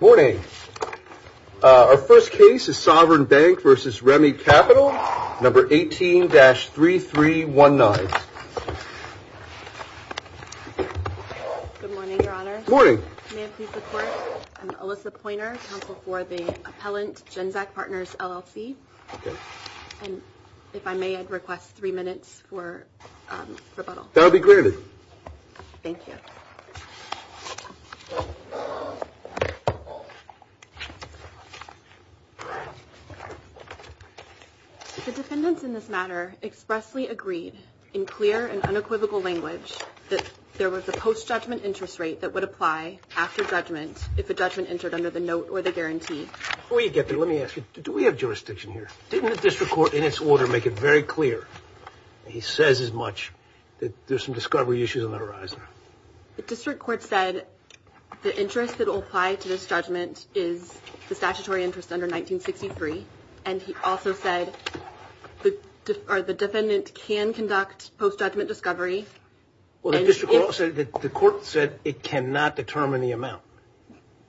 Morning. Our first case is Sovereign Bank v. Remi Capital, No. 18-3319. Good morning, Your Honor. Morning. May I please report? I'm Alyssa Pointer, counsel for the Appellant GenZak Partners, LLC. Okay. And if I may, I'd request three minutes for rebuttal. That'll be granted. Thank you. The defendants in this matter expressly agreed, in clear and unequivocal language, that there was a post-judgment interest rate that would apply after judgment if a judgment entered under the note or the guarantee. Before you get there, let me ask you, do we have jurisdiction here? Didn't the district court in its order make it very clear, and he says as much, that there's some discovery issues on the horizon? The district court said the interest that will apply to this judgment is the statutory interest under 1963, and he also said the defendant can conduct post-judgment discovery. Well, the court said it cannot determine the amount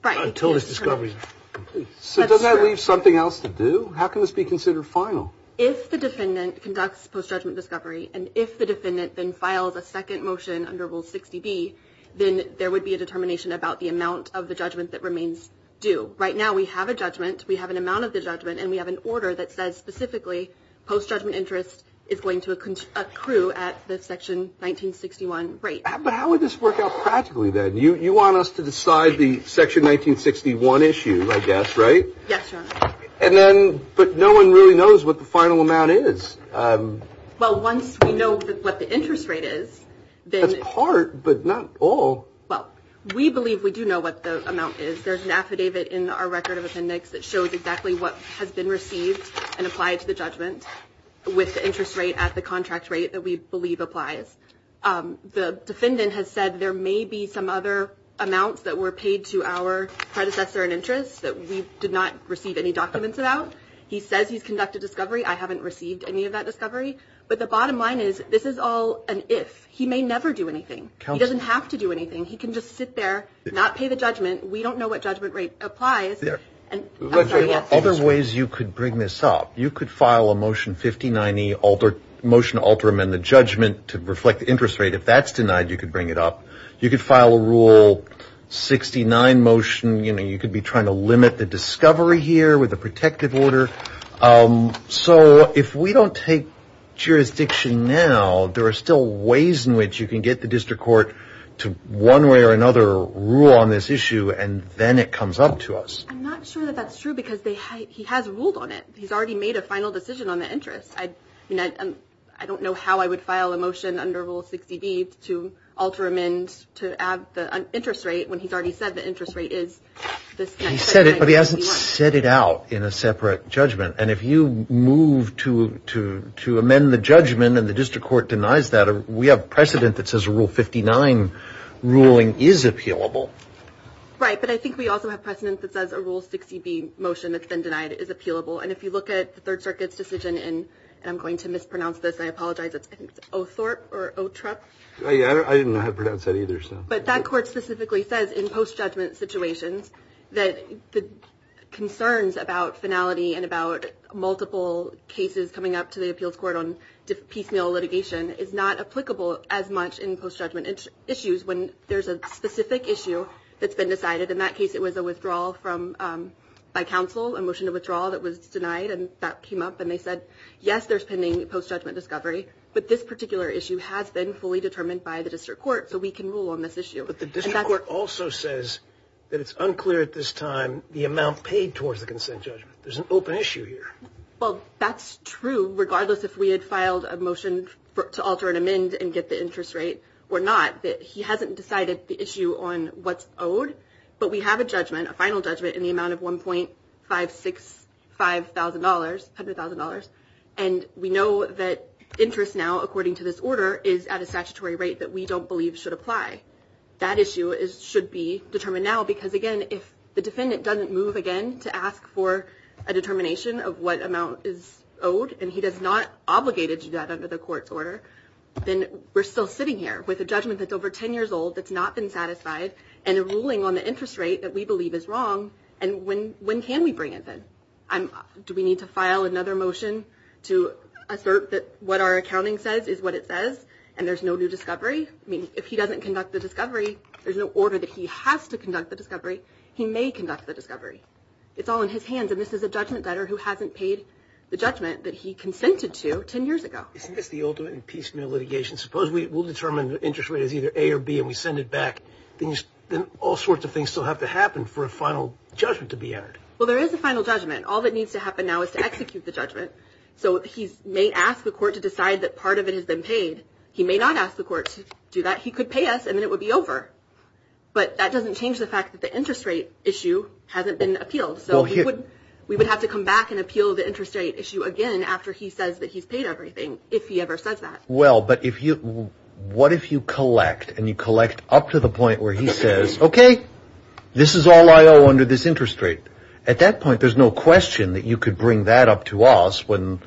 until this discovery is complete. So does that leave something else to do? How can this be considered final? If the defendant conducts post-judgment discovery, and if the defendant then files a second motion under Rule 60B, then there would be a determination about the amount of the judgment that remains due. Right now we have a judgment, we have an amount of the judgment, and we have an order that says specifically post-judgment interest is going to accrue at the Section 1961 rate. But how would this work out practically, then? You want us to decide the Section 1961 issue, I guess, right? Yes, Your Honor. But no one really knows what the final amount is. Well, once we know what the interest rate is, then – That's part, but not all. Well, we believe we do know what the amount is. There's an affidavit in our record of appendix that shows exactly what has been received and applied to the judgment with the interest rate at the contract rate that we believe applies. The defendant has said there may be some other amounts that were paid to our predecessor in interest that we did not receive any documents about. He says he's conducted discovery. I haven't received any of that discovery. But the bottom line is this is all an if. He may never do anything. He doesn't have to do anything. He can just sit there, not pay the judgment. We don't know what judgment rate applies. Other ways you could bring this up. You could file a Motion 59E, motion to alter amend the judgment to reflect the interest rate. If that's denied, you could bring it up. You could file a Rule 69 motion. You could be trying to limit the discovery here with a protective order. So if we don't take jurisdiction now, there are still ways in which you can get the district court to one way or another rule on this issue, and then it comes up to us. I'm not sure that that's true because he has ruled on it. He's already made a final decision on the interest. I don't know how I would file a motion under Rule 60B to alter amend to add the interest rate when he's already said the interest rate is this. He said it, but he hasn't set it out in a separate judgment. And if you move to amend the judgment and the district court denies that, we have precedent that says a Rule 59 ruling is appealable. Right. But I think we also have precedent that says a Rule 60B motion that's been denied is appealable. And if you look at the Third Circuit's decision, and I'm going to mispronounce this, I apologize. I think it's Othorp or Otrup. I didn't know how to pronounce that either. But that court specifically says in post-judgment situations that the concerns about finality and about multiple cases coming up to the appeals court on piecemeal litigation is not applicable as much in post-judgment issues when there's a specific issue that's been decided. In that case, it was a withdrawal by counsel, a motion of withdrawal that was denied, and that came up and they said, yes, there's pending post-judgment discovery, but this particular issue has been fully determined by the district court, so we can rule on this issue. But the district court also says that it's unclear at this time the amount paid towards the consent judgment. There's an open issue here. Well, that's true regardless if we had filed a motion to alter an amend and get the interest rate or not, that he hasn't decided the issue on what's owed. But we have a judgment, a final judgment, in the amount of $1.565,000, $100,000. And we know that interest now, according to this order, is at a statutory rate that we don't believe should apply. That issue should be determined now because, again, if the defendant doesn't move again to ask for a determination of what amount is owed and he is not obligated to do that under the court's order, then we're still sitting here with a judgment that's over 10 years old that's not been satisfied and a ruling on the interest rate that we believe is wrong, and when can we bring it then? Do we need to file another motion to assert that what our accounting says is what it says and there's no new discovery? I mean, if he doesn't conduct the discovery, there's no order that he has to conduct the discovery. He may conduct the discovery. It's all in his hands, and this is a judgment debtor who hasn't paid the judgment that he consented to 10 years ago. Isn't this the ultimate in piecemeal litigation? Suppose we will determine the interest rate is either A or B and we send it back. Then all sorts of things still have to happen for a final judgment to be entered. Well, there is a final judgment. All that needs to happen now is to execute the judgment. So he may ask the court to decide that part of it has been paid. He may not ask the court to do that. He could pay us and then it would be over, but that doesn't change the fact that the interest rate issue hasn't been appealed. So we would have to come back and appeal the interest rate issue again after he says that he's paid everything, if he ever says that. Well, but what if you collect and you collect up to the point where he says, okay, this is all I owe under this interest rate. At that point, there's no question that you could bring that up to us when,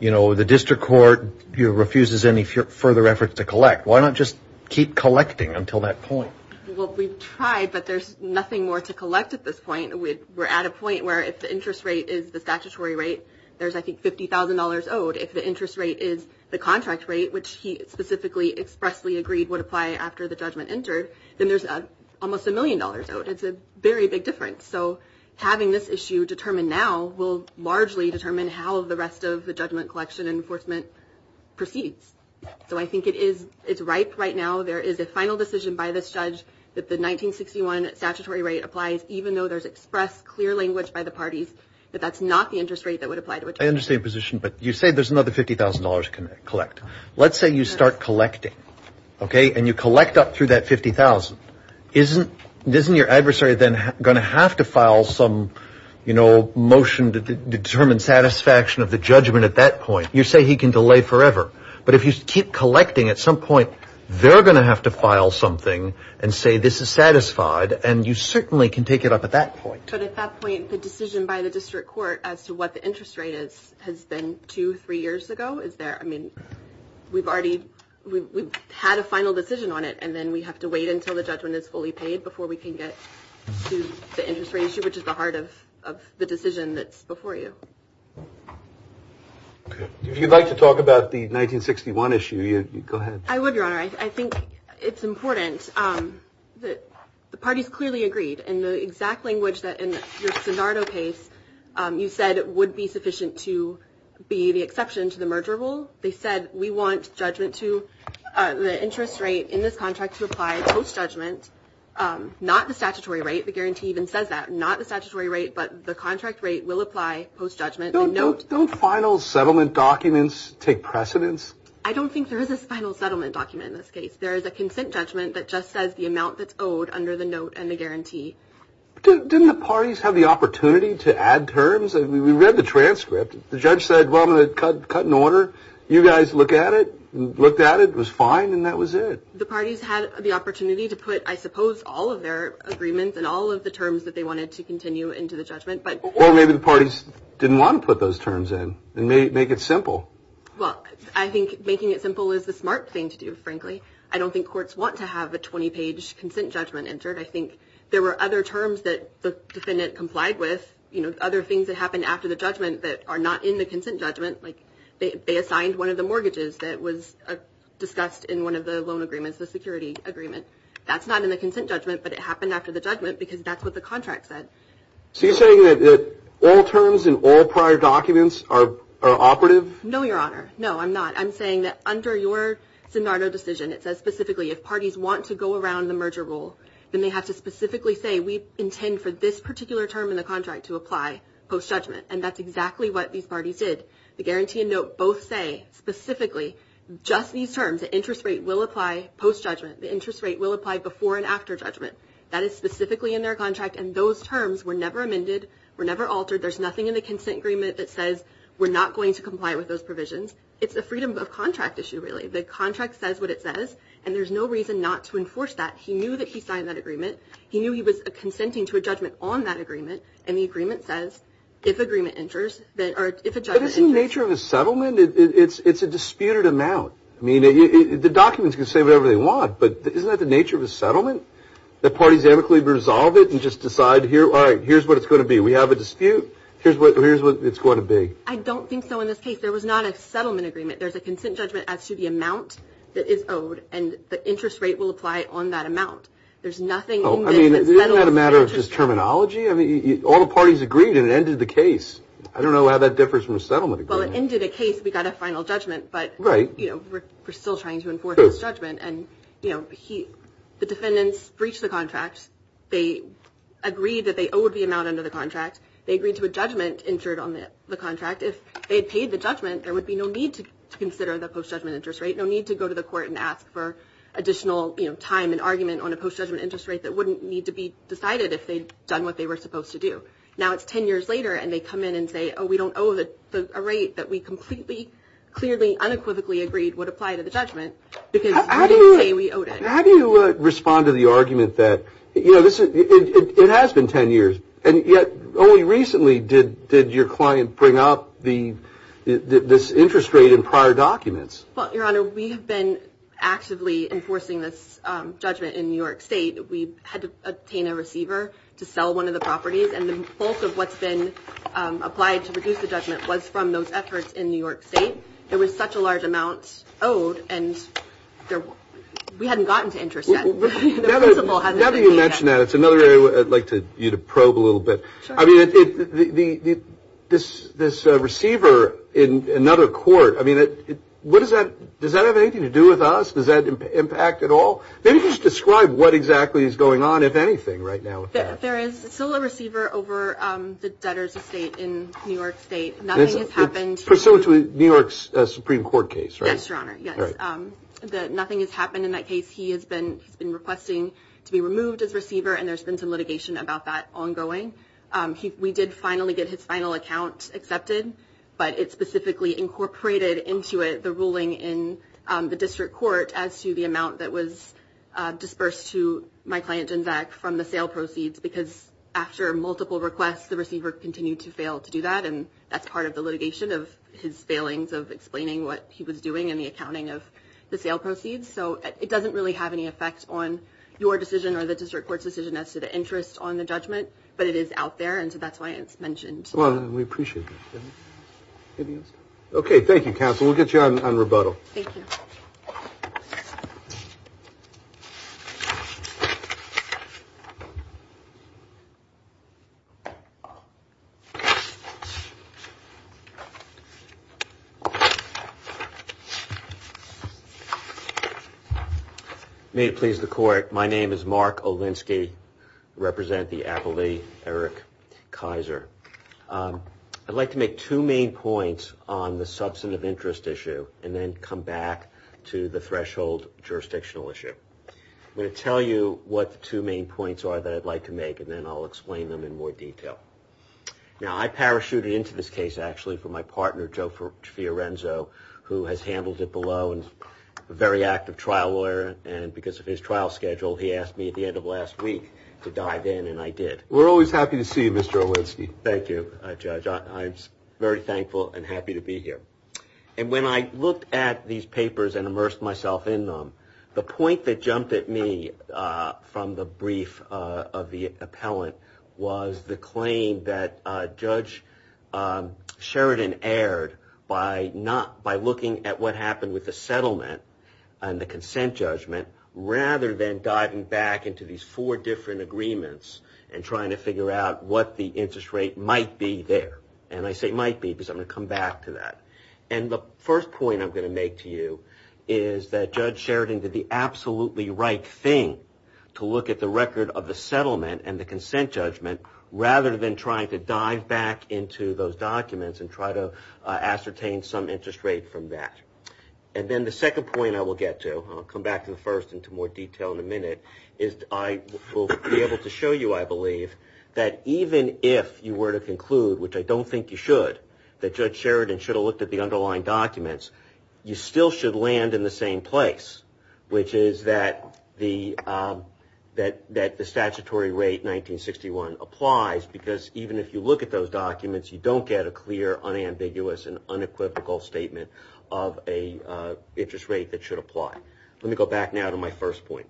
you know, the district court refuses any further efforts to collect. Why not just keep collecting until that point? Well, we've tried, but there's nothing more to collect at this point. We're at a point where if the interest rate is the statutory rate, there's, I think, $50,000 owed. If the interest rate is the contract rate, which he specifically expressly agreed would apply after the judgment entered, then there's almost a million dollars owed. It's a very big difference. So having this issue determined now will largely determine how the rest of the judgment collection enforcement proceeds. So I think it is it's ripe right now. There is a final decision by this judge that the 1961 statutory rate applies, even though there's expressed clear language by the parties that that's not the interest rate that would apply to it. I understand your position, but you say there's another $50,000 to collect. Let's say you start collecting. Okay. And you collect up through that $50,000. Isn't your adversary then going to have to file some, you know, motion to determine satisfaction of the judgment at that point? You say he can delay forever. But if you keep collecting at some point, they're going to have to file something and say this is satisfied. And you certainly can take it up at that point. But at that point, the decision by the district court as to what the interest rate is has been two, three years ago. Is there I mean, we've already we've had a final decision on it, and then we have to wait until the judgment is fully paid before we can get to the interest rate issue, which is the heart of the decision that's before you. If you'd like to talk about the 1961 issue, you go ahead. I would. All right. I think it's important that the party's clearly agreed in the exact language that in the Nardo case, you said it would be sufficient to be the exception to the merger rule. They said we want judgment to the interest rate in this contract to apply post judgment, not the statutory rate. The guarantee even says that not the statutory rate, but the contract rate will apply post judgment. Don't final settlement documents take precedence? I don't think there is a final settlement document in this case. There is a consent judgment that just says the amount that's owed under the note and the guarantee. Didn't the parties have the opportunity to add terms? And we read the transcript. The judge said, well, I'm going to cut cut in order. You guys look at it, looked at it was fine. And that was it. The parties had the opportunity to put, I suppose, all of their agreements and all of the terms that they wanted to continue into the judgment. But maybe the parties didn't want to put those terms in and make it simple. Well, I think making it simple is the smart thing to do. Frankly, I don't think courts want to have a 20 page consent judgment entered. I think there were other terms that the defendant complied with, you know, other things that happened after the judgment that are not in the consent judgment. Like they assigned one of the mortgages that was discussed in one of the loan agreements, the security agreement. That's not in the consent judgment, but it happened after the judgment because that's what the contract said. So you're saying that all terms in all prior documents are operative? No, Your Honor. No, I'm not. I'm saying that under your Sinado decision, it says specifically if parties want to go around the merger rule, then they have to specifically say, we intend for this particular term in the contract to apply post-judgment. And that's exactly what these parties did. The guarantee and note both say specifically just these terms. The interest rate will apply post-judgment. The interest rate will apply before and after judgment. That is specifically in their contract. And those terms were never amended, were never altered. There's nothing in the consent agreement that says we're not going to comply with those provisions. It's a freedom of contract issue, really. The contract says what it says, and there's no reason not to enforce that. He knew that he signed that agreement. He knew he was consenting to a judgment on that agreement, and the agreement says if a judgment enters. But isn't the nature of a settlement? It's a disputed amount. I mean, the documents can say whatever they want, but isn't that the nature of a settlement, that parties amicably resolve it and just decide, all right, here's what it's going to be. We have a dispute. Here's what it's going to be. I don't think so in this case. There was not a settlement agreement. There's a consent judgment as to the amount that is owed, and the interest rate will apply on that amount. There's nothing in this that settles the interest. I mean, isn't that a matter of just terminology? I mean, all the parties agreed, and it ended the case. I don't know how that differs from a settlement agreement. Well, it ended a case. We got a final judgment, but, you know, we're still trying to enforce this judgment. And, you know, the defendants breached the contract. They agreed that they owed the amount under the contract. They agreed to a judgment entered on the contract. If they had paid the judgment, there would be no need to consider the post-judgment interest rate, no need to go to the court and ask for additional, you know, time and argument on a post-judgment interest rate that wouldn't need to be decided if they'd done what they were supposed to do. Now it's 10 years later, and they come in and say, oh, we don't owe a rate that we completely, clearly, unequivocally agreed would apply to the judgment because we didn't say we owed it. How do you respond to the argument that, you know, it has been 10 years, and yet only recently did your client bring up this interest rate in prior documents? Well, Your Honor, we have been actively enforcing this judgment in New York State. We had to obtain a receiver to sell one of the properties, and the bulk of what's been applied to reduce the judgment was from those efforts in New York State. It was such a large amount owed, and we hadn't gotten to interest yet. The principal hasn't been paid yet. Now that you mention that, it's another area I'd like you to probe a little bit. I mean, this receiver in another court, I mean, does that have anything to do with us? Does that impact at all? Maybe just describe what exactly is going on, if anything, right now with that. There is still a receiver over the debtors' estate in New York State. Nothing has happened. It's pursuant to New York's Supreme Court case, right? Yes, Your Honor, yes. Nothing has happened in that case. He has been requesting to be removed as receiver, and there's been some litigation about that ongoing. We did finally get his final account accepted, but it specifically incorporated into it the ruling in the district court as to the amount that was disbursed to my client, Jenzak, from the sale proceeds, because after multiple requests, the receiver continued to fail to do that, and that's part of the litigation of his failings of explaining what he was doing and the accounting of the sale proceeds. So it doesn't really have any effect on your decision or the district court's decision as to the interest on the judgment, but it is out there, and so that's why it's mentioned. Well, we appreciate that. Okay, thank you, counsel. We'll get you on rebuttal. Thank you. May it please the Court, my name is Mark Olinsky. I represent the appellee, Eric Kaiser. I'd like to make two main points on the substantive interest issue and then come back to the threshold jurisdictional issue. I'm going to tell you what the two main points are that I'd like to make, and then I'll explain them in more detail. Now, I parachuted into this case, actually, from my partner, Joe Fiorenzo, who has handled it below and is a very active trial lawyer, and because of his trial schedule, he asked me at the end of last week to dive in, and I did. We're always happy to see you, Mr. Olinsky. Thank you, Judge. I'm very thankful and happy to be here. And when I looked at these papers and immersed myself in them, the point that jumped at me from the brief of the appellant was the claim that Judge Sheridan had been aired by looking at what happened with the settlement and the consent judgment rather than diving back into these four different agreements and trying to figure out what the interest rate might be there. And I say might be because I'm going to come back to that. And the first point I'm going to make to you is that Judge Sheridan did the absolutely right thing to look at the record of the settlement and the consent judgment rather than trying to dive back into those documents and try to ascertain some interest rate from that. And then the second point I will get to, and I'll come back to the first in more detail in a minute, is I will be able to show you, I believe, that even if you were to conclude, which I don't think you should, that Judge Sheridan should have looked at the underlying documents, you still should land in the same place, which is that the statutory rate 1961 applies because even if you look at those documents, you don't get a clear, unambiguous, and unequivocal statement of an interest rate that should apply. Let me go back now to my first point.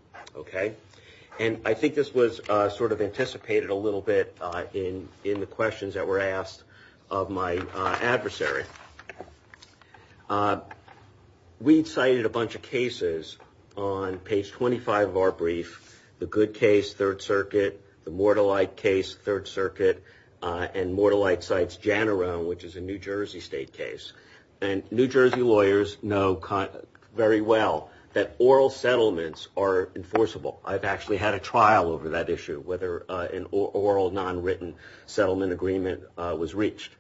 And I think this was sort of anticipated a little bit in the questions that were asked of my adversary. We cited a bunch of cases on page 25 of our brief, the Good Case, Third Circuit, the Mortallite case, Third Circuit, and Mortallite cites Janarone, which is a New Jersey state case. And New Jersey lawyers know very well that oral settlements are enforceable. I've actually had a trial over that issue, whether an oral, nonwritten settlement agreement was reached.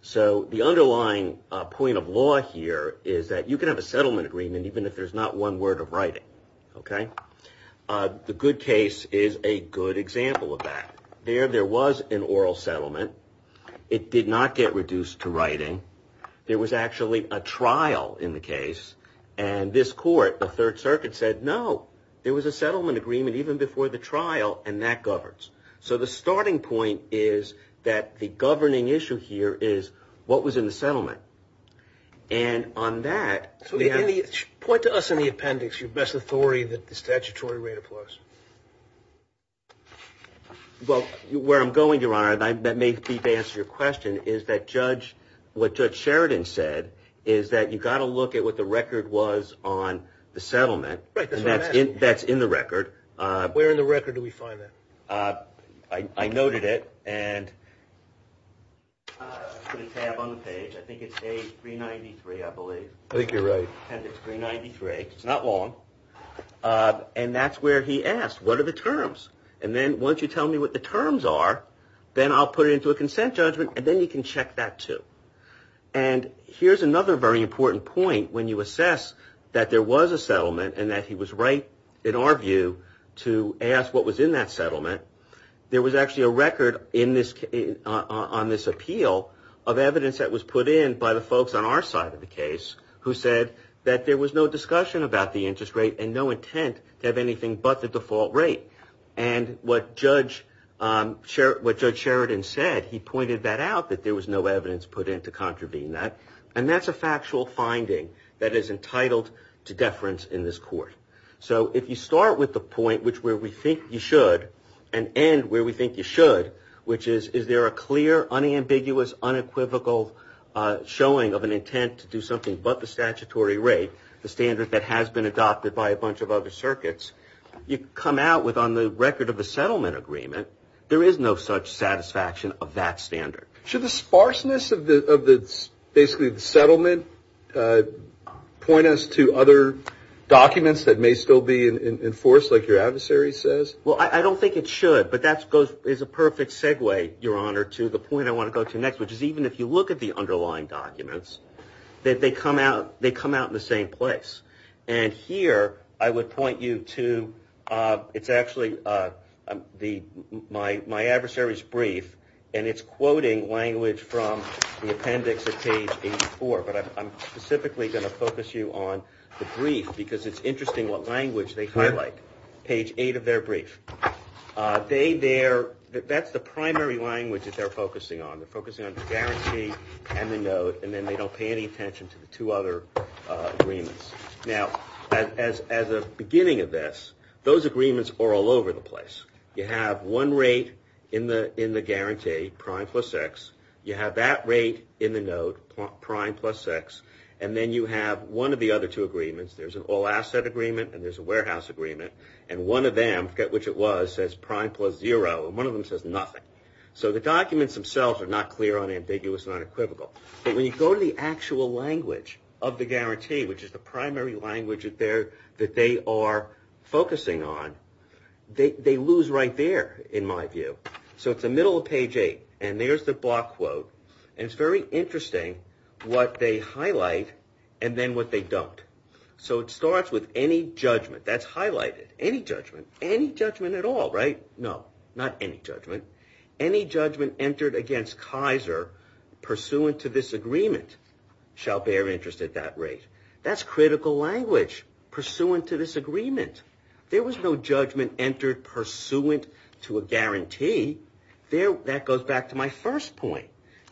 So the underlying point of law here is that you can have a settlement agreement even if there's not one word of writing. The Good Case is a good example of that. There, there was an oral settlement. It did not get reduced to writing. There was actually a trial in the case, and this court, the Third Circuit, said no. There was a settlement agreement even before the trial, and that governs. So the starting point is that the governing issue here is what was in the settlement. And on that. Point to us in the appendix your best authority that the statutory rate applies. Well, where I'm going, Your Honor, and that may be to answer your question, is that Judge, what Judge Sheridan said, is that you've got to look at what the record was on the settlement. That's in the record. Where in the record do we find that? I noted it, and I put a tab on the page. I think it's page 393, I believe. I think you're right. Appendix 393. It's not long. And that's where he asked, what are the terms? And then once you tell me what the terms are, then I'll put it into a consent judgment, and then you can check that, too. And here's another very important point. When you assess that there was a settlement and that he was right, in our view, to ask what was in that settlement, there was actually a record on this appeal of evidence that was put in by the folks on our side of the case who said that there was no discussion about the interest rate and no intent to have anything but the default rate. And what Judge Sheridan said, he pointed that out, that there was no evidence put in to contravene that. And that's a factual finding that is entitled to deference in this court. So if you start with the point where we think you should and end where we think you should, which is, is there a clear, unambiguous, unequivocal showing of an intent to do something but the statutory rate, the standard that has been adopted by a bunch of other circuits, you come out with on the record of a settlement agreement, there is no such satisfaction of that standard. Should the sparseness of basically the settlement point us to other documents that may still be enforced, like your adversary says? Well, I don't think it should, but that is a perfect segue, Your Honor, to the point I want to go to next, which is even if you look at the underlying documents, that they come out in the same place. And here I would point you to, it's actually my adversary's brief, and it's quoting language from the appendix of page 84. But I'm specifically going to focus you on the brief because it's interesting what language they highlight. Page 8 of their brief. That's the primary language that they're focusing on. They're focusing on the guarantee and the note, and then they don't pay any attention to the two other agreements. Now, as a beginning of this, those agreements are all over the place. You have one rate in the guarantee, prime plus x. You have that rate in the note, prime plus x. And then you have one of the other two agreements. There's an all-asset agreement and there's a warehouse agreement. And one of them, I forget which it was, says prime plus zero. And one of them says nothing. So the documents themselves are not clear, unambiguous, and unequivocal. But when you go to the actual language of the guarantee, which is the primary language that they are focusing on, they lose right there, in my view. So it's the middle of page 8, and there's the block quote. And it's very interesting what they highlight and then what they don't. So it starts with any judgment. That's highlighted. Any judgment. Any judgment at all, right? No, not any judgment. Any judgment entered against Kaiser pursuant to this agreement shall bear interest at that rate. That's critical language, pursuant to this agreement. There was no judgment entered pursuant to a guarantee. That goes back to my first point.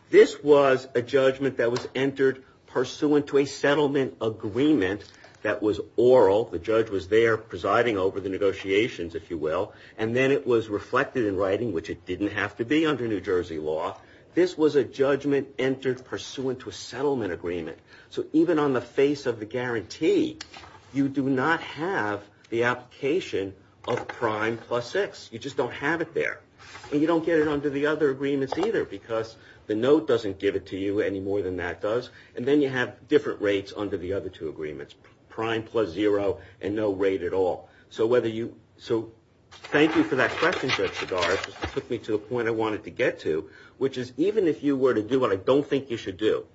This was a judgment that was entered pursuant to a settlement agreement that was oral. The judge was there presiding over the negotiations, if you will. And then it was reflected in writing, which it didn't have to be under New Jersey law. This was a judgment entered pursuant to a settlement agreement. So even on the face of the guarantee, you do not have the application of prime plus six. You just don't have it there. And you don't get it under the other agreements either, because the note doesn't give it to you any more than that does. And then you have different rates under the other two agreements, prime plus zero and no rate at all. So thank you for that question, Judge Sagar. It took me to the point I wanted to get to, which is even if you were to do what I don't think you should do,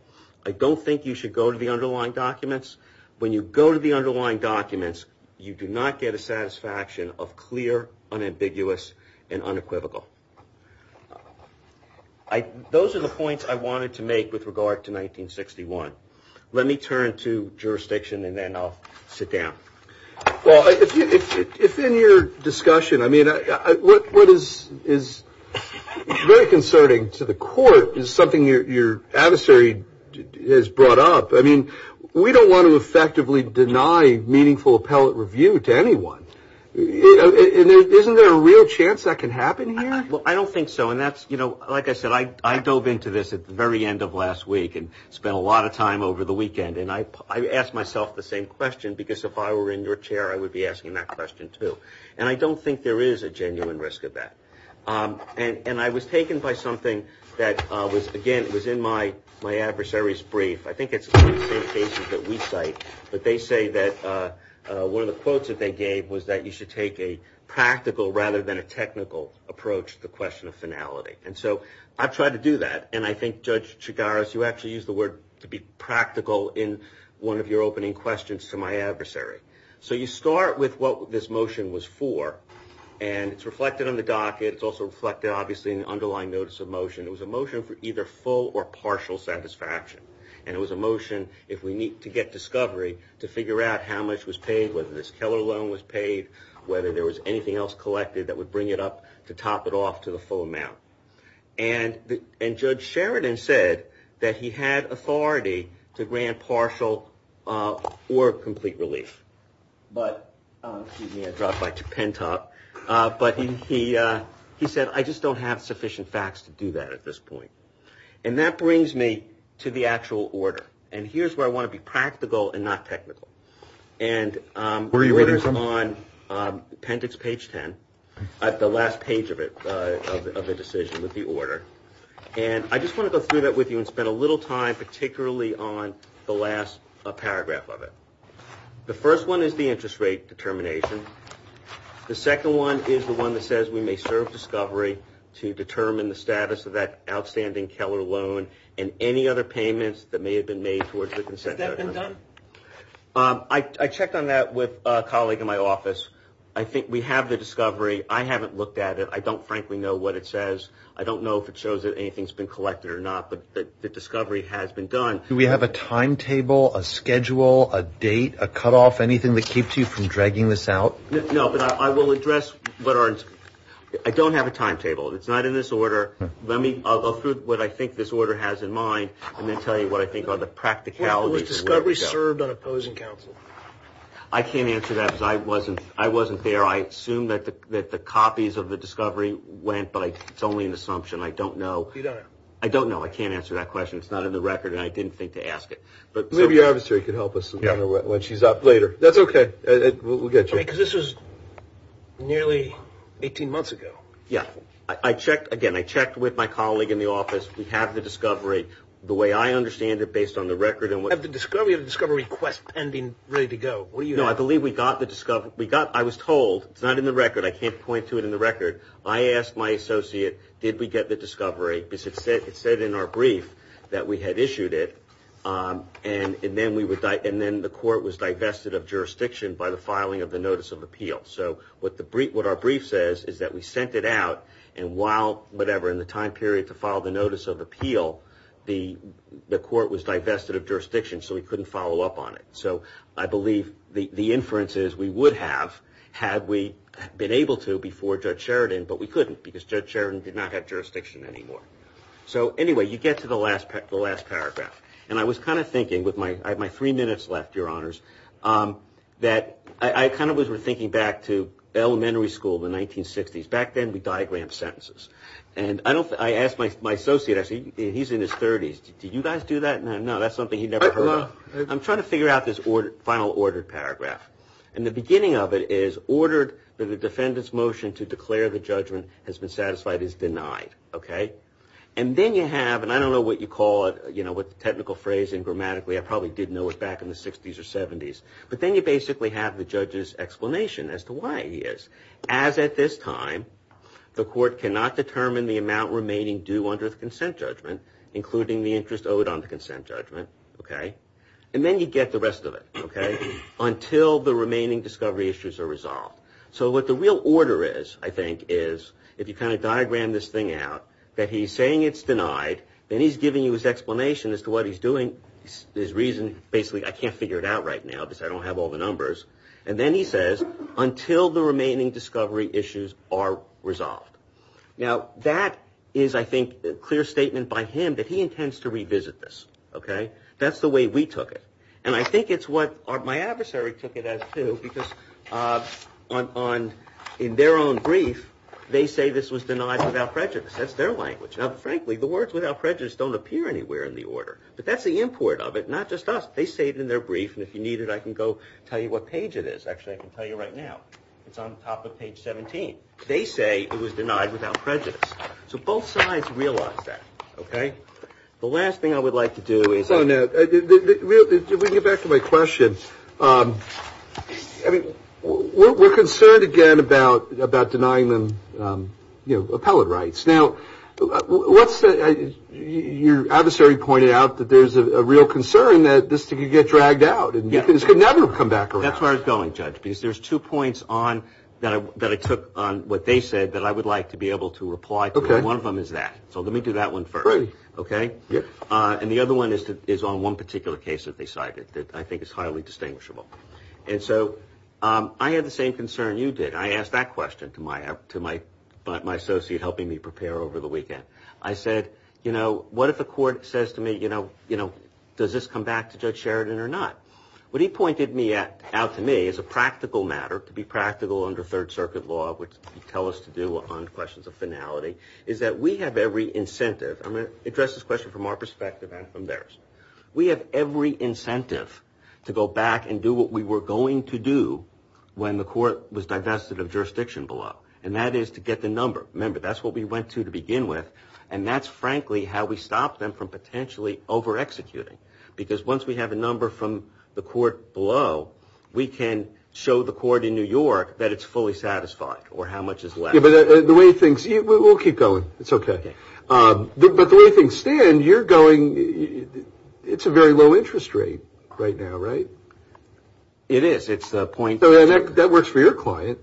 I don't think you should go to the underlying documents. When you go to the underlying documents, you do not get a satisfaction of clear, unambiguous, and unequivocal. Those are the points I wanted to make with regard to 1961. Let me turn to jurisdiction and then I'll sit down. Well, if in your discussion, I mean, what is very concerning to the court is something your adversary has brought up. I mean, we don't want to effectively deny meaningful appellate review to anyone. Isn't there a real chance that can happen here? Well, I don't think so. And that's, you know, like I said, I dove into this at the very end of last week and spent a lot of time over the weekend. And I asked myself the same question because if I were in your chair, I would be asking that question too. And I don't think there is a genuine risk of that. And I was taken by something that was, again, it was in my adversary's brief. I think it's one of the cases that we cite. But they say that one of the quotes that they gave was that you should take a practical rather than a technical approach to the question of finality. And so I've tried to do that. And I think, Judge Chigaris, you actually used the word to be practical in one of your opening questions to my adversary. So you start with what this motion was for. And it's reflected on the docket. It's also reflected, obviously, in the underlying notice of motion. It was a motion for either full or partial satisfaction. And it was a motion if we need to get discovery to figure out how much was paid, whether this Keller loan was paid, whether there was anything else collected that would bring it up to top it off to the full amount. And Judge Sheridan said that he had authority to grant partial or complete relief. But, excuse me, I dropped my pen top. But he said, I just don't have sufficient facts to do that at this point. And that brings me to the actual order. And here's where I want to be practical and not technical. Where are you reading from? It's on appendix page 10, the last page of it, of the decision with the order. And I just want to go through that with you and spend a little time particularly on the last paragraph of it. The first one is the interest rate determination. The second one is the one that says we may serve discovery to determine the status of that outstanding Keller loan and any other payments that may have been made towards the consent. Has that been done? I checked on that with a colleague in my office. I think we have the discovery. I haven't looked at it. I don't frankly know what it says. I don't know if it shows that anything's been collected or not. But the discovery has been done. Do we have a timetable, a schedule, a date, a cutoff, anything that keeps you from dragging this out? No, but I will address what our – I don't have a timetable. It's not in this order. Let me – I'll go through what I think this order has in mind and then tell you what I think are the practicalities. Has discovery served on opposing counsel? I can't answer that because I wasn't there. I assume that the copies of the discovery went, but it's only an assumption. I don't know. I don't know. I can't answer that question. It's not in the record, and I didn't think to ask it. Maybe your officer could help us when she's up later. That's okay. We'll get you. Because this was nearly 18 months ago. Yeah. I checked again. I checked with my colleague in the office. We have the discovery. The way I understand it, based on the record and what – Have the discovery of the discovery quest pending, ready to go? What do you have? No, I believe we got the discovery. We got – I was told – it's not in the record. I can't point to it in the record. I asked my associate, did we get the discovery, because it said in our brief that we had issued it, and then we would – and then the court was divested of jurisdiction by the filing of the notice of appeal. So what our brief says is that we sent it out, and while – whatever – in the time period to file the notice of appeal, the court was divested of jurisdiction, so we couldn't follow up on it. So I believe the inference is we would have had we been able to before Judge Sheridan, but we couldn't because Judge Sheridan did not have jurisdiction anymore. So anyway, you get to the last paragraph. And I was kind of thinking with my – I have my three minutes left, Your Honors, that I kind of was thinking back to elementary school, the 1960s. Back then, we diagrammed sentences. And I don't – I asked my associate – he's in his 30s. Did you guys do that? No, that's something he never heard of. I'm trying to figure out this final ordered paragraph. And the beginning of it is ordered that the defendant's motion to declare the judgment has been satisfied is denied, okay? And then you have – and I don't know what you call it, you know, with the technical phrase and grammatically. I probably did know it back in the 60s or 70s. But then you basically have the judge's explanation as to why he is. As at this time, the court cannot determine the amount remaining due under the consent judgment, including the interest owed on the consent judgment, okay? And then you get the rest of it, okay, until the remaining discovery issues are resolved. So what the real order is, I think, is if you kind of diagram this thing out, that he's saying it's denied. Then he's giving you his explanation as to what he's doing. His reason, basically, I can't figure it out right now because I don't have all the numbers. And then he says, until the remaining discovery issues are resolved. Now, that is, I think, a clear statement by him that he intends to revisit this, okay? That's the way we took it. And I think it's what my adversary took it as, too, because in their own brief, they say this was denied without prejudice. That's their language. Now, frankly, the words without prejudice don't appear anywhere in the order. But that's the import of it, not just us. They say it in their brief. And if you need it, I can go tell you what page it is. Actually, I can tell you right now. It's on top of page 17. They say it was denied without prejudice. So both sides realize that, okay? The last thing I would like to do is – Oh, no. If we can get back to my question. I mean, we're concerned again about denying them, you know, appellate rights. Now, your adversary pointed out that there's a real concern that this could get dragged out and this could never come back around. That's where I was going, Judge, because there's two points that I took on what they said that I would like to be able to reply to. Okay. And one of them is that. So let me do that one first. Great. Okay? And the other one is on one particular case that they cited that I think is highly distinguishable. And so I had the same concern you did. I asked that question to my associate helping me prepare over the weekend. I said, you know, what if the court says to me, you know, does this come back to Judge Sheridan or not? What he pointed out to me as a practical matter, to be practical under Third Circuit law, which you tell us to do on questions of finality, is that we have every incentive – I'm going to address this question from our perspective and from theirs. We have every incentive to go back and do what we were going to do when the court was divested of jurisdiction below. And that is to get the number. Remember, that's what we went to to begin with. And that's frankly how we stop them from potentially over-executing. Because once we have a number from the court below, we can show the court in New York that it's fully satisfied or how much is left. Yeah, but the way things – we'll keep going. It's okay. Okay. But the way things stand, you're going – it's a very low interest rate right now, right? It is. It's the point – That works for your client.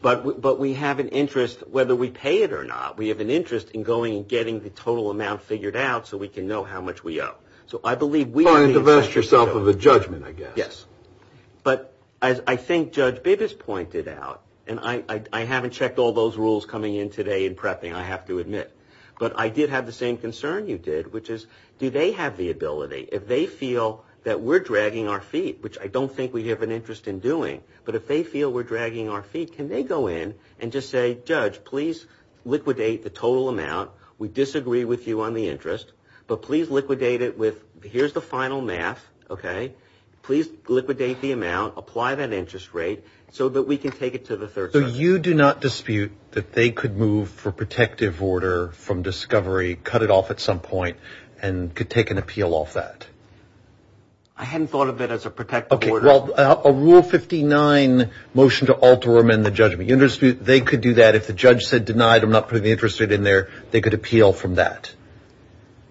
But we have an interest whether we pay it or not. We have an interest in going and getting the total amount figured out so we can know how much we owe. So I believe we are the – Trying to divest yourself of a judgment, I guess. Yes. But as I think Judge Bibas pointed out, and I haven't checked all those rules coming in today in prepping, I have to admit, but I did have the same concern you did, which is do they have the ability, if they feel that we're dragging our feet, which I don't think we have an interest in doing, but if they feel we're dragging our feet, can they go in and just say, Judge, please liquidate the total amount. We disagree with you on the interest, but please liquidate it with – here's the final math, okay? Please liquidate the amount. Apply that interest rate so that we can take it to the third party. So you do not dispute that they could move for protective order from discovery, cut it off at some point, and could take an appeal off that? I hadn't thought of it as a protective order. Well, a Rule 59 motion to alter or amend the judgment, they could do that. If the judge said, denied, I'm not putting the interest rate in there, they could appeal from that.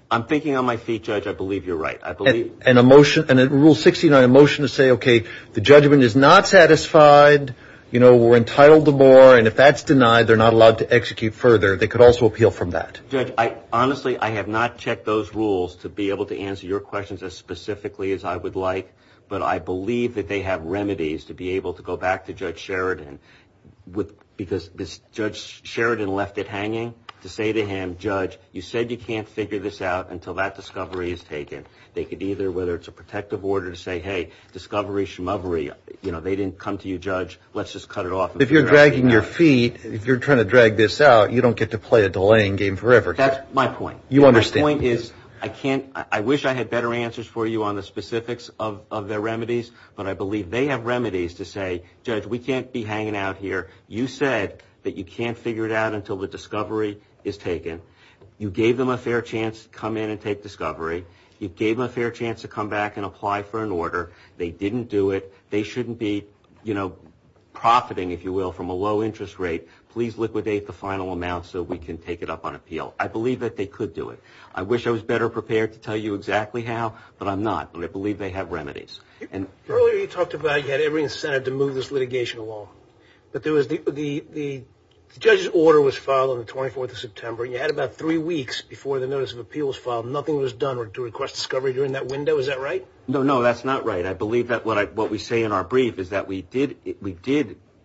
I'm thinking on my feet, Judge. I believe you're right. I believe – And a motion – Rule 69, a motion to say, okay, the judgment is not satisfied, we're entitled to more, and if that's denied, they're not allowed to execute further, they could also appeal from that. Judge, honestly, I have not checked those rules to be able to answer your questions as specifically as I would like, but I believe that they have remedies to be able to go back to Judge Sheridan because Judge Sheridan left it hanging to say to him, Judge, you said you can't figure this out until that discovery is taken. They could either, whether it's a protective order to say, hey, discovery, schmovery, you know, they didn't come to you, Judge, let's just cut it off. If you're dragging your feet, if you're trying to drag this out, you don't get to play a delaying game forever. That's my point. You understand. My point is I can't – I wish I had better answers for you on the specifics of their remedies, but I believe they have remedies to say, Judge, we can't be hanging out here. You said that you can't figure it out until the discovery is taken. You gave them a fair chance to come in and take discovery. You gave them a fair chance to come back and apply for an order. They didn't do it. They shouldn't be, you know, profiting, if you will, from a low interest rate. Please liquidate the final amount so we can take it up on appeal. I believe that they could do it. I wish I was better prepared to tell you exactly how, but I'm not. But I believe they have remedies. Earlier you talked about you had every incentive to move this litigation along. But there was – the judge's order was filed on the 24th of September, and you had about three weeks before the notice of appeal was filed. Nothing was done to request discovery during that window. Is that right? No, no, that's not right. I believe that what we say in our brief is that we did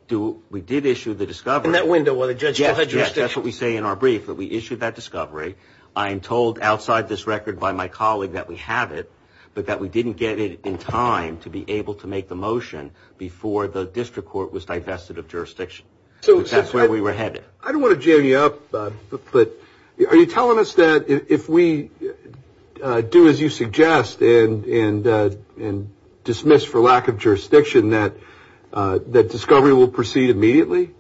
issue the discovery. In that window where the judge still had jurisdiction. That's what we say in our brief, that we issued that discovery. I am told outside this record by my colleague that we have it, but that we didn't get it in time to be able to make the motion before the district court was divested of jurisdiction. So that's where we were headed. I don't want to jam you up, but are you telling us that if we do as you suggest and dismiss for lack of jurisdiction that discovery will proceed immediately?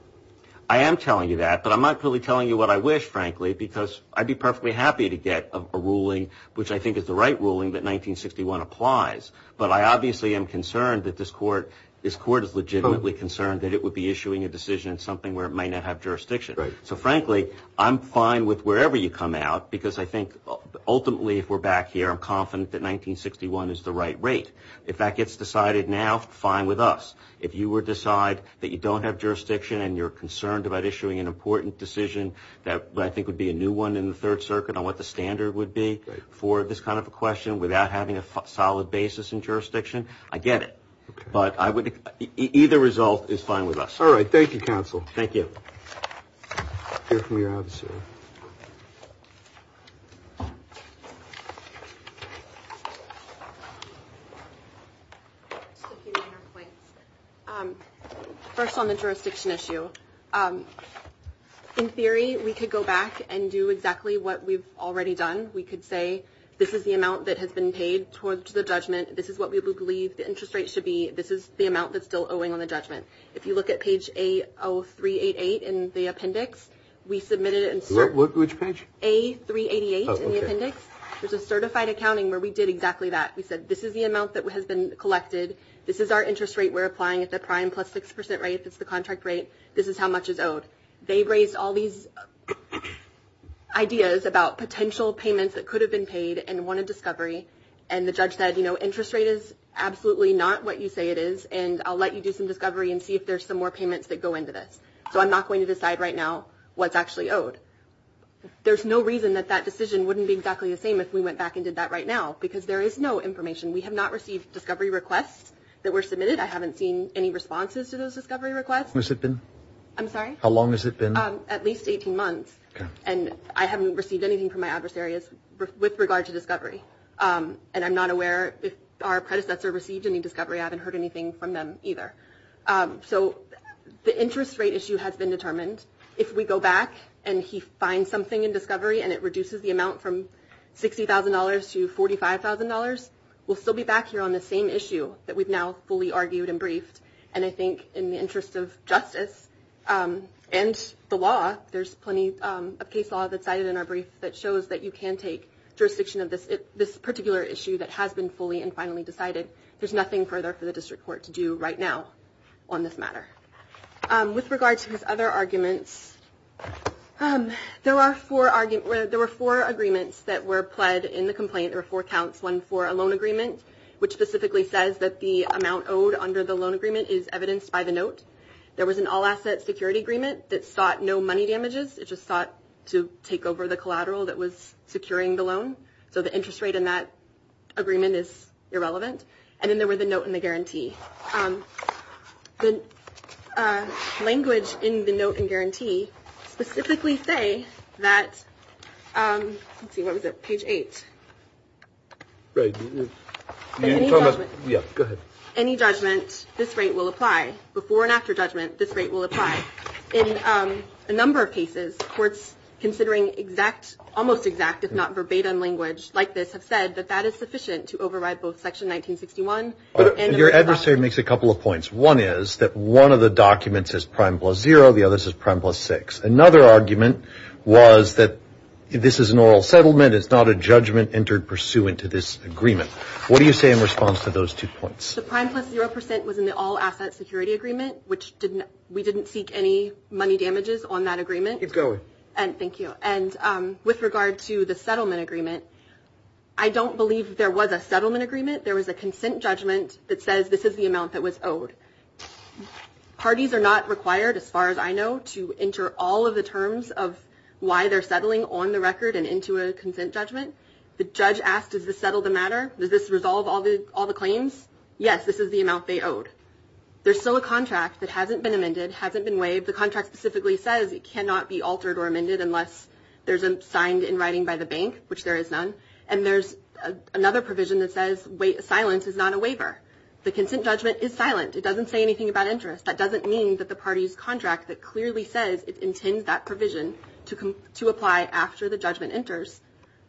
I am telling you that, but I'm not really telling you what I wish, frankly, because I'd be perfectly happy to get a ruling, which I think is the right ruling, that 1961 applies. But I obviously am concerned that this court is legitimately concerned that it would be issuing a decision in something where it may not have jurisdiction. Right. So frankly, I'm fine with wherever you come out, because I think ultimately if we're back here I'm confident that 1961 is the right rate. If that gets decided now, fine with us. If you decide that you don't have jurisdiction and you're concerned about issuing an important decision that I think would be a new one in the Third Circuit on what the standard would be for this kind of a question without having a solid basis in jurisdiction, I get it. But either result is fine with us. All right. Thank you, counsel. Thank you. We'll hear from your officer. Just a few minor points. First on the jurisdiction issue. In theory, we could go back and do exactly what we've already done. We could say this is the amount that has been paid towards the judgment, this is what we believe the interest rate should be, this is the amount that's still owing on the judgment. If you look at page A0388 in the appendix, we submitted it. Which page? A388 in the appendix. There's a certified accounting where we did exactly that. We said this is the amount that has been collected, this is our interest rate we're applying at the prime plus 6% rate, that's the contract rate, this is how much is owed. They raised all these ideas about potential payments that could have been paid and wanted discovery, and the judge said, you know, interest rate is absolutely not what you say it is, and I'll let you do some discovery and see if there's some more payments that go into this. So I'm not going to decide right now what's actually owed. There's no reason that that decision wouldn't be exactly the same if we went back and did that right now, because there is no information. We have not received discovery requests that were submitted. I haven't seen any responses to those discovery requests. How long has it been? At least 18 months, and I haven't received anything from my adversaries with regard to discovery, and I'm not aware if our predecessor received any discovery. I haven't heard anything from them either. So the interest rate issue has been determined. If we go back and he finds something in discovery and it reduces the amount from $60,000 to $45,000, we'll still be back here on the same issue that we've now fully argued and briefed, and I think in the interest of justice and the law, there's plenty of case law that's cited in our brief that shows that you can take jurisdiction of this particular issue that has been fully and finally decided. There's nothing further for the district court to do right now on this matter. With regard to his other arguments, there were four agreements that were pled in the complaint. There were four counts, one for a loan agreement, which specifically says that the amount owed under the loan agreement is evidenced by the note. There was an all-asset security agreement that sought no money damages. It just sought to take over the collateral that was securing the loan, so the interest rate in that agreement is irrelevant. And then there were the note and the guarantee. The language in the note and guarantee specifically say that, let's see, what was it, page 8? Any judgment, this rate will apply. Before and after judgment, this rate will apply. In a number of cases, courts considering exact, almost exact, if not verbatim language like this, have said that that is sufficient to override both Section 1961. Your adversary makes a couple of points. One is that one of the documents is prime plus zero. The other is prime plus six. Another argument was that this is an oral settlement. It's not a judgment entered pursuant to this agreement. What do you say in response to those two points? The prime plus zero percent was in the all-asset security agreement, which we didn't seek any money damages on that agreement. Keep going. Thank you. And with regard to the settlement agreement, I don't believe there was a settlement agreement. There was a consent judgment that says this is the amount that was owed. Parties are not required, as far as I know, to enter all of the terms of why they're settling on the record and into a consent judgment. The judge asked, does this settle the matter? Does this resolve all the claims? Yes, this is the amount they owed. There's still a contract that hasn't been amended, hasn't been waived. The contract specifically says it cannot be altered or amended unless there's a signed in writing by the bank, which there is none. And there's another provision that says silence is not a waiver. The consent judgment is silent. It doesn't say anything about interest. That doesn't mean that the party's contract that clearly says it intends that provision to apply after the judgment enters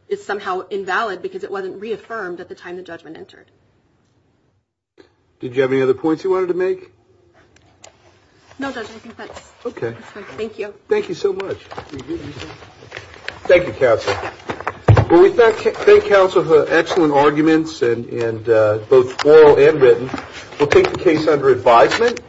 is somehow invalid because it wasn't reaffirmed at the time the judgment entered. Did you have any other points you wanted to make? No, Judge, I think that's it. Thank you. Thank you so much. Thank you, counsel. Well, we thank counsel for excellent arguments, both oral and written. We'll take the case under advisement.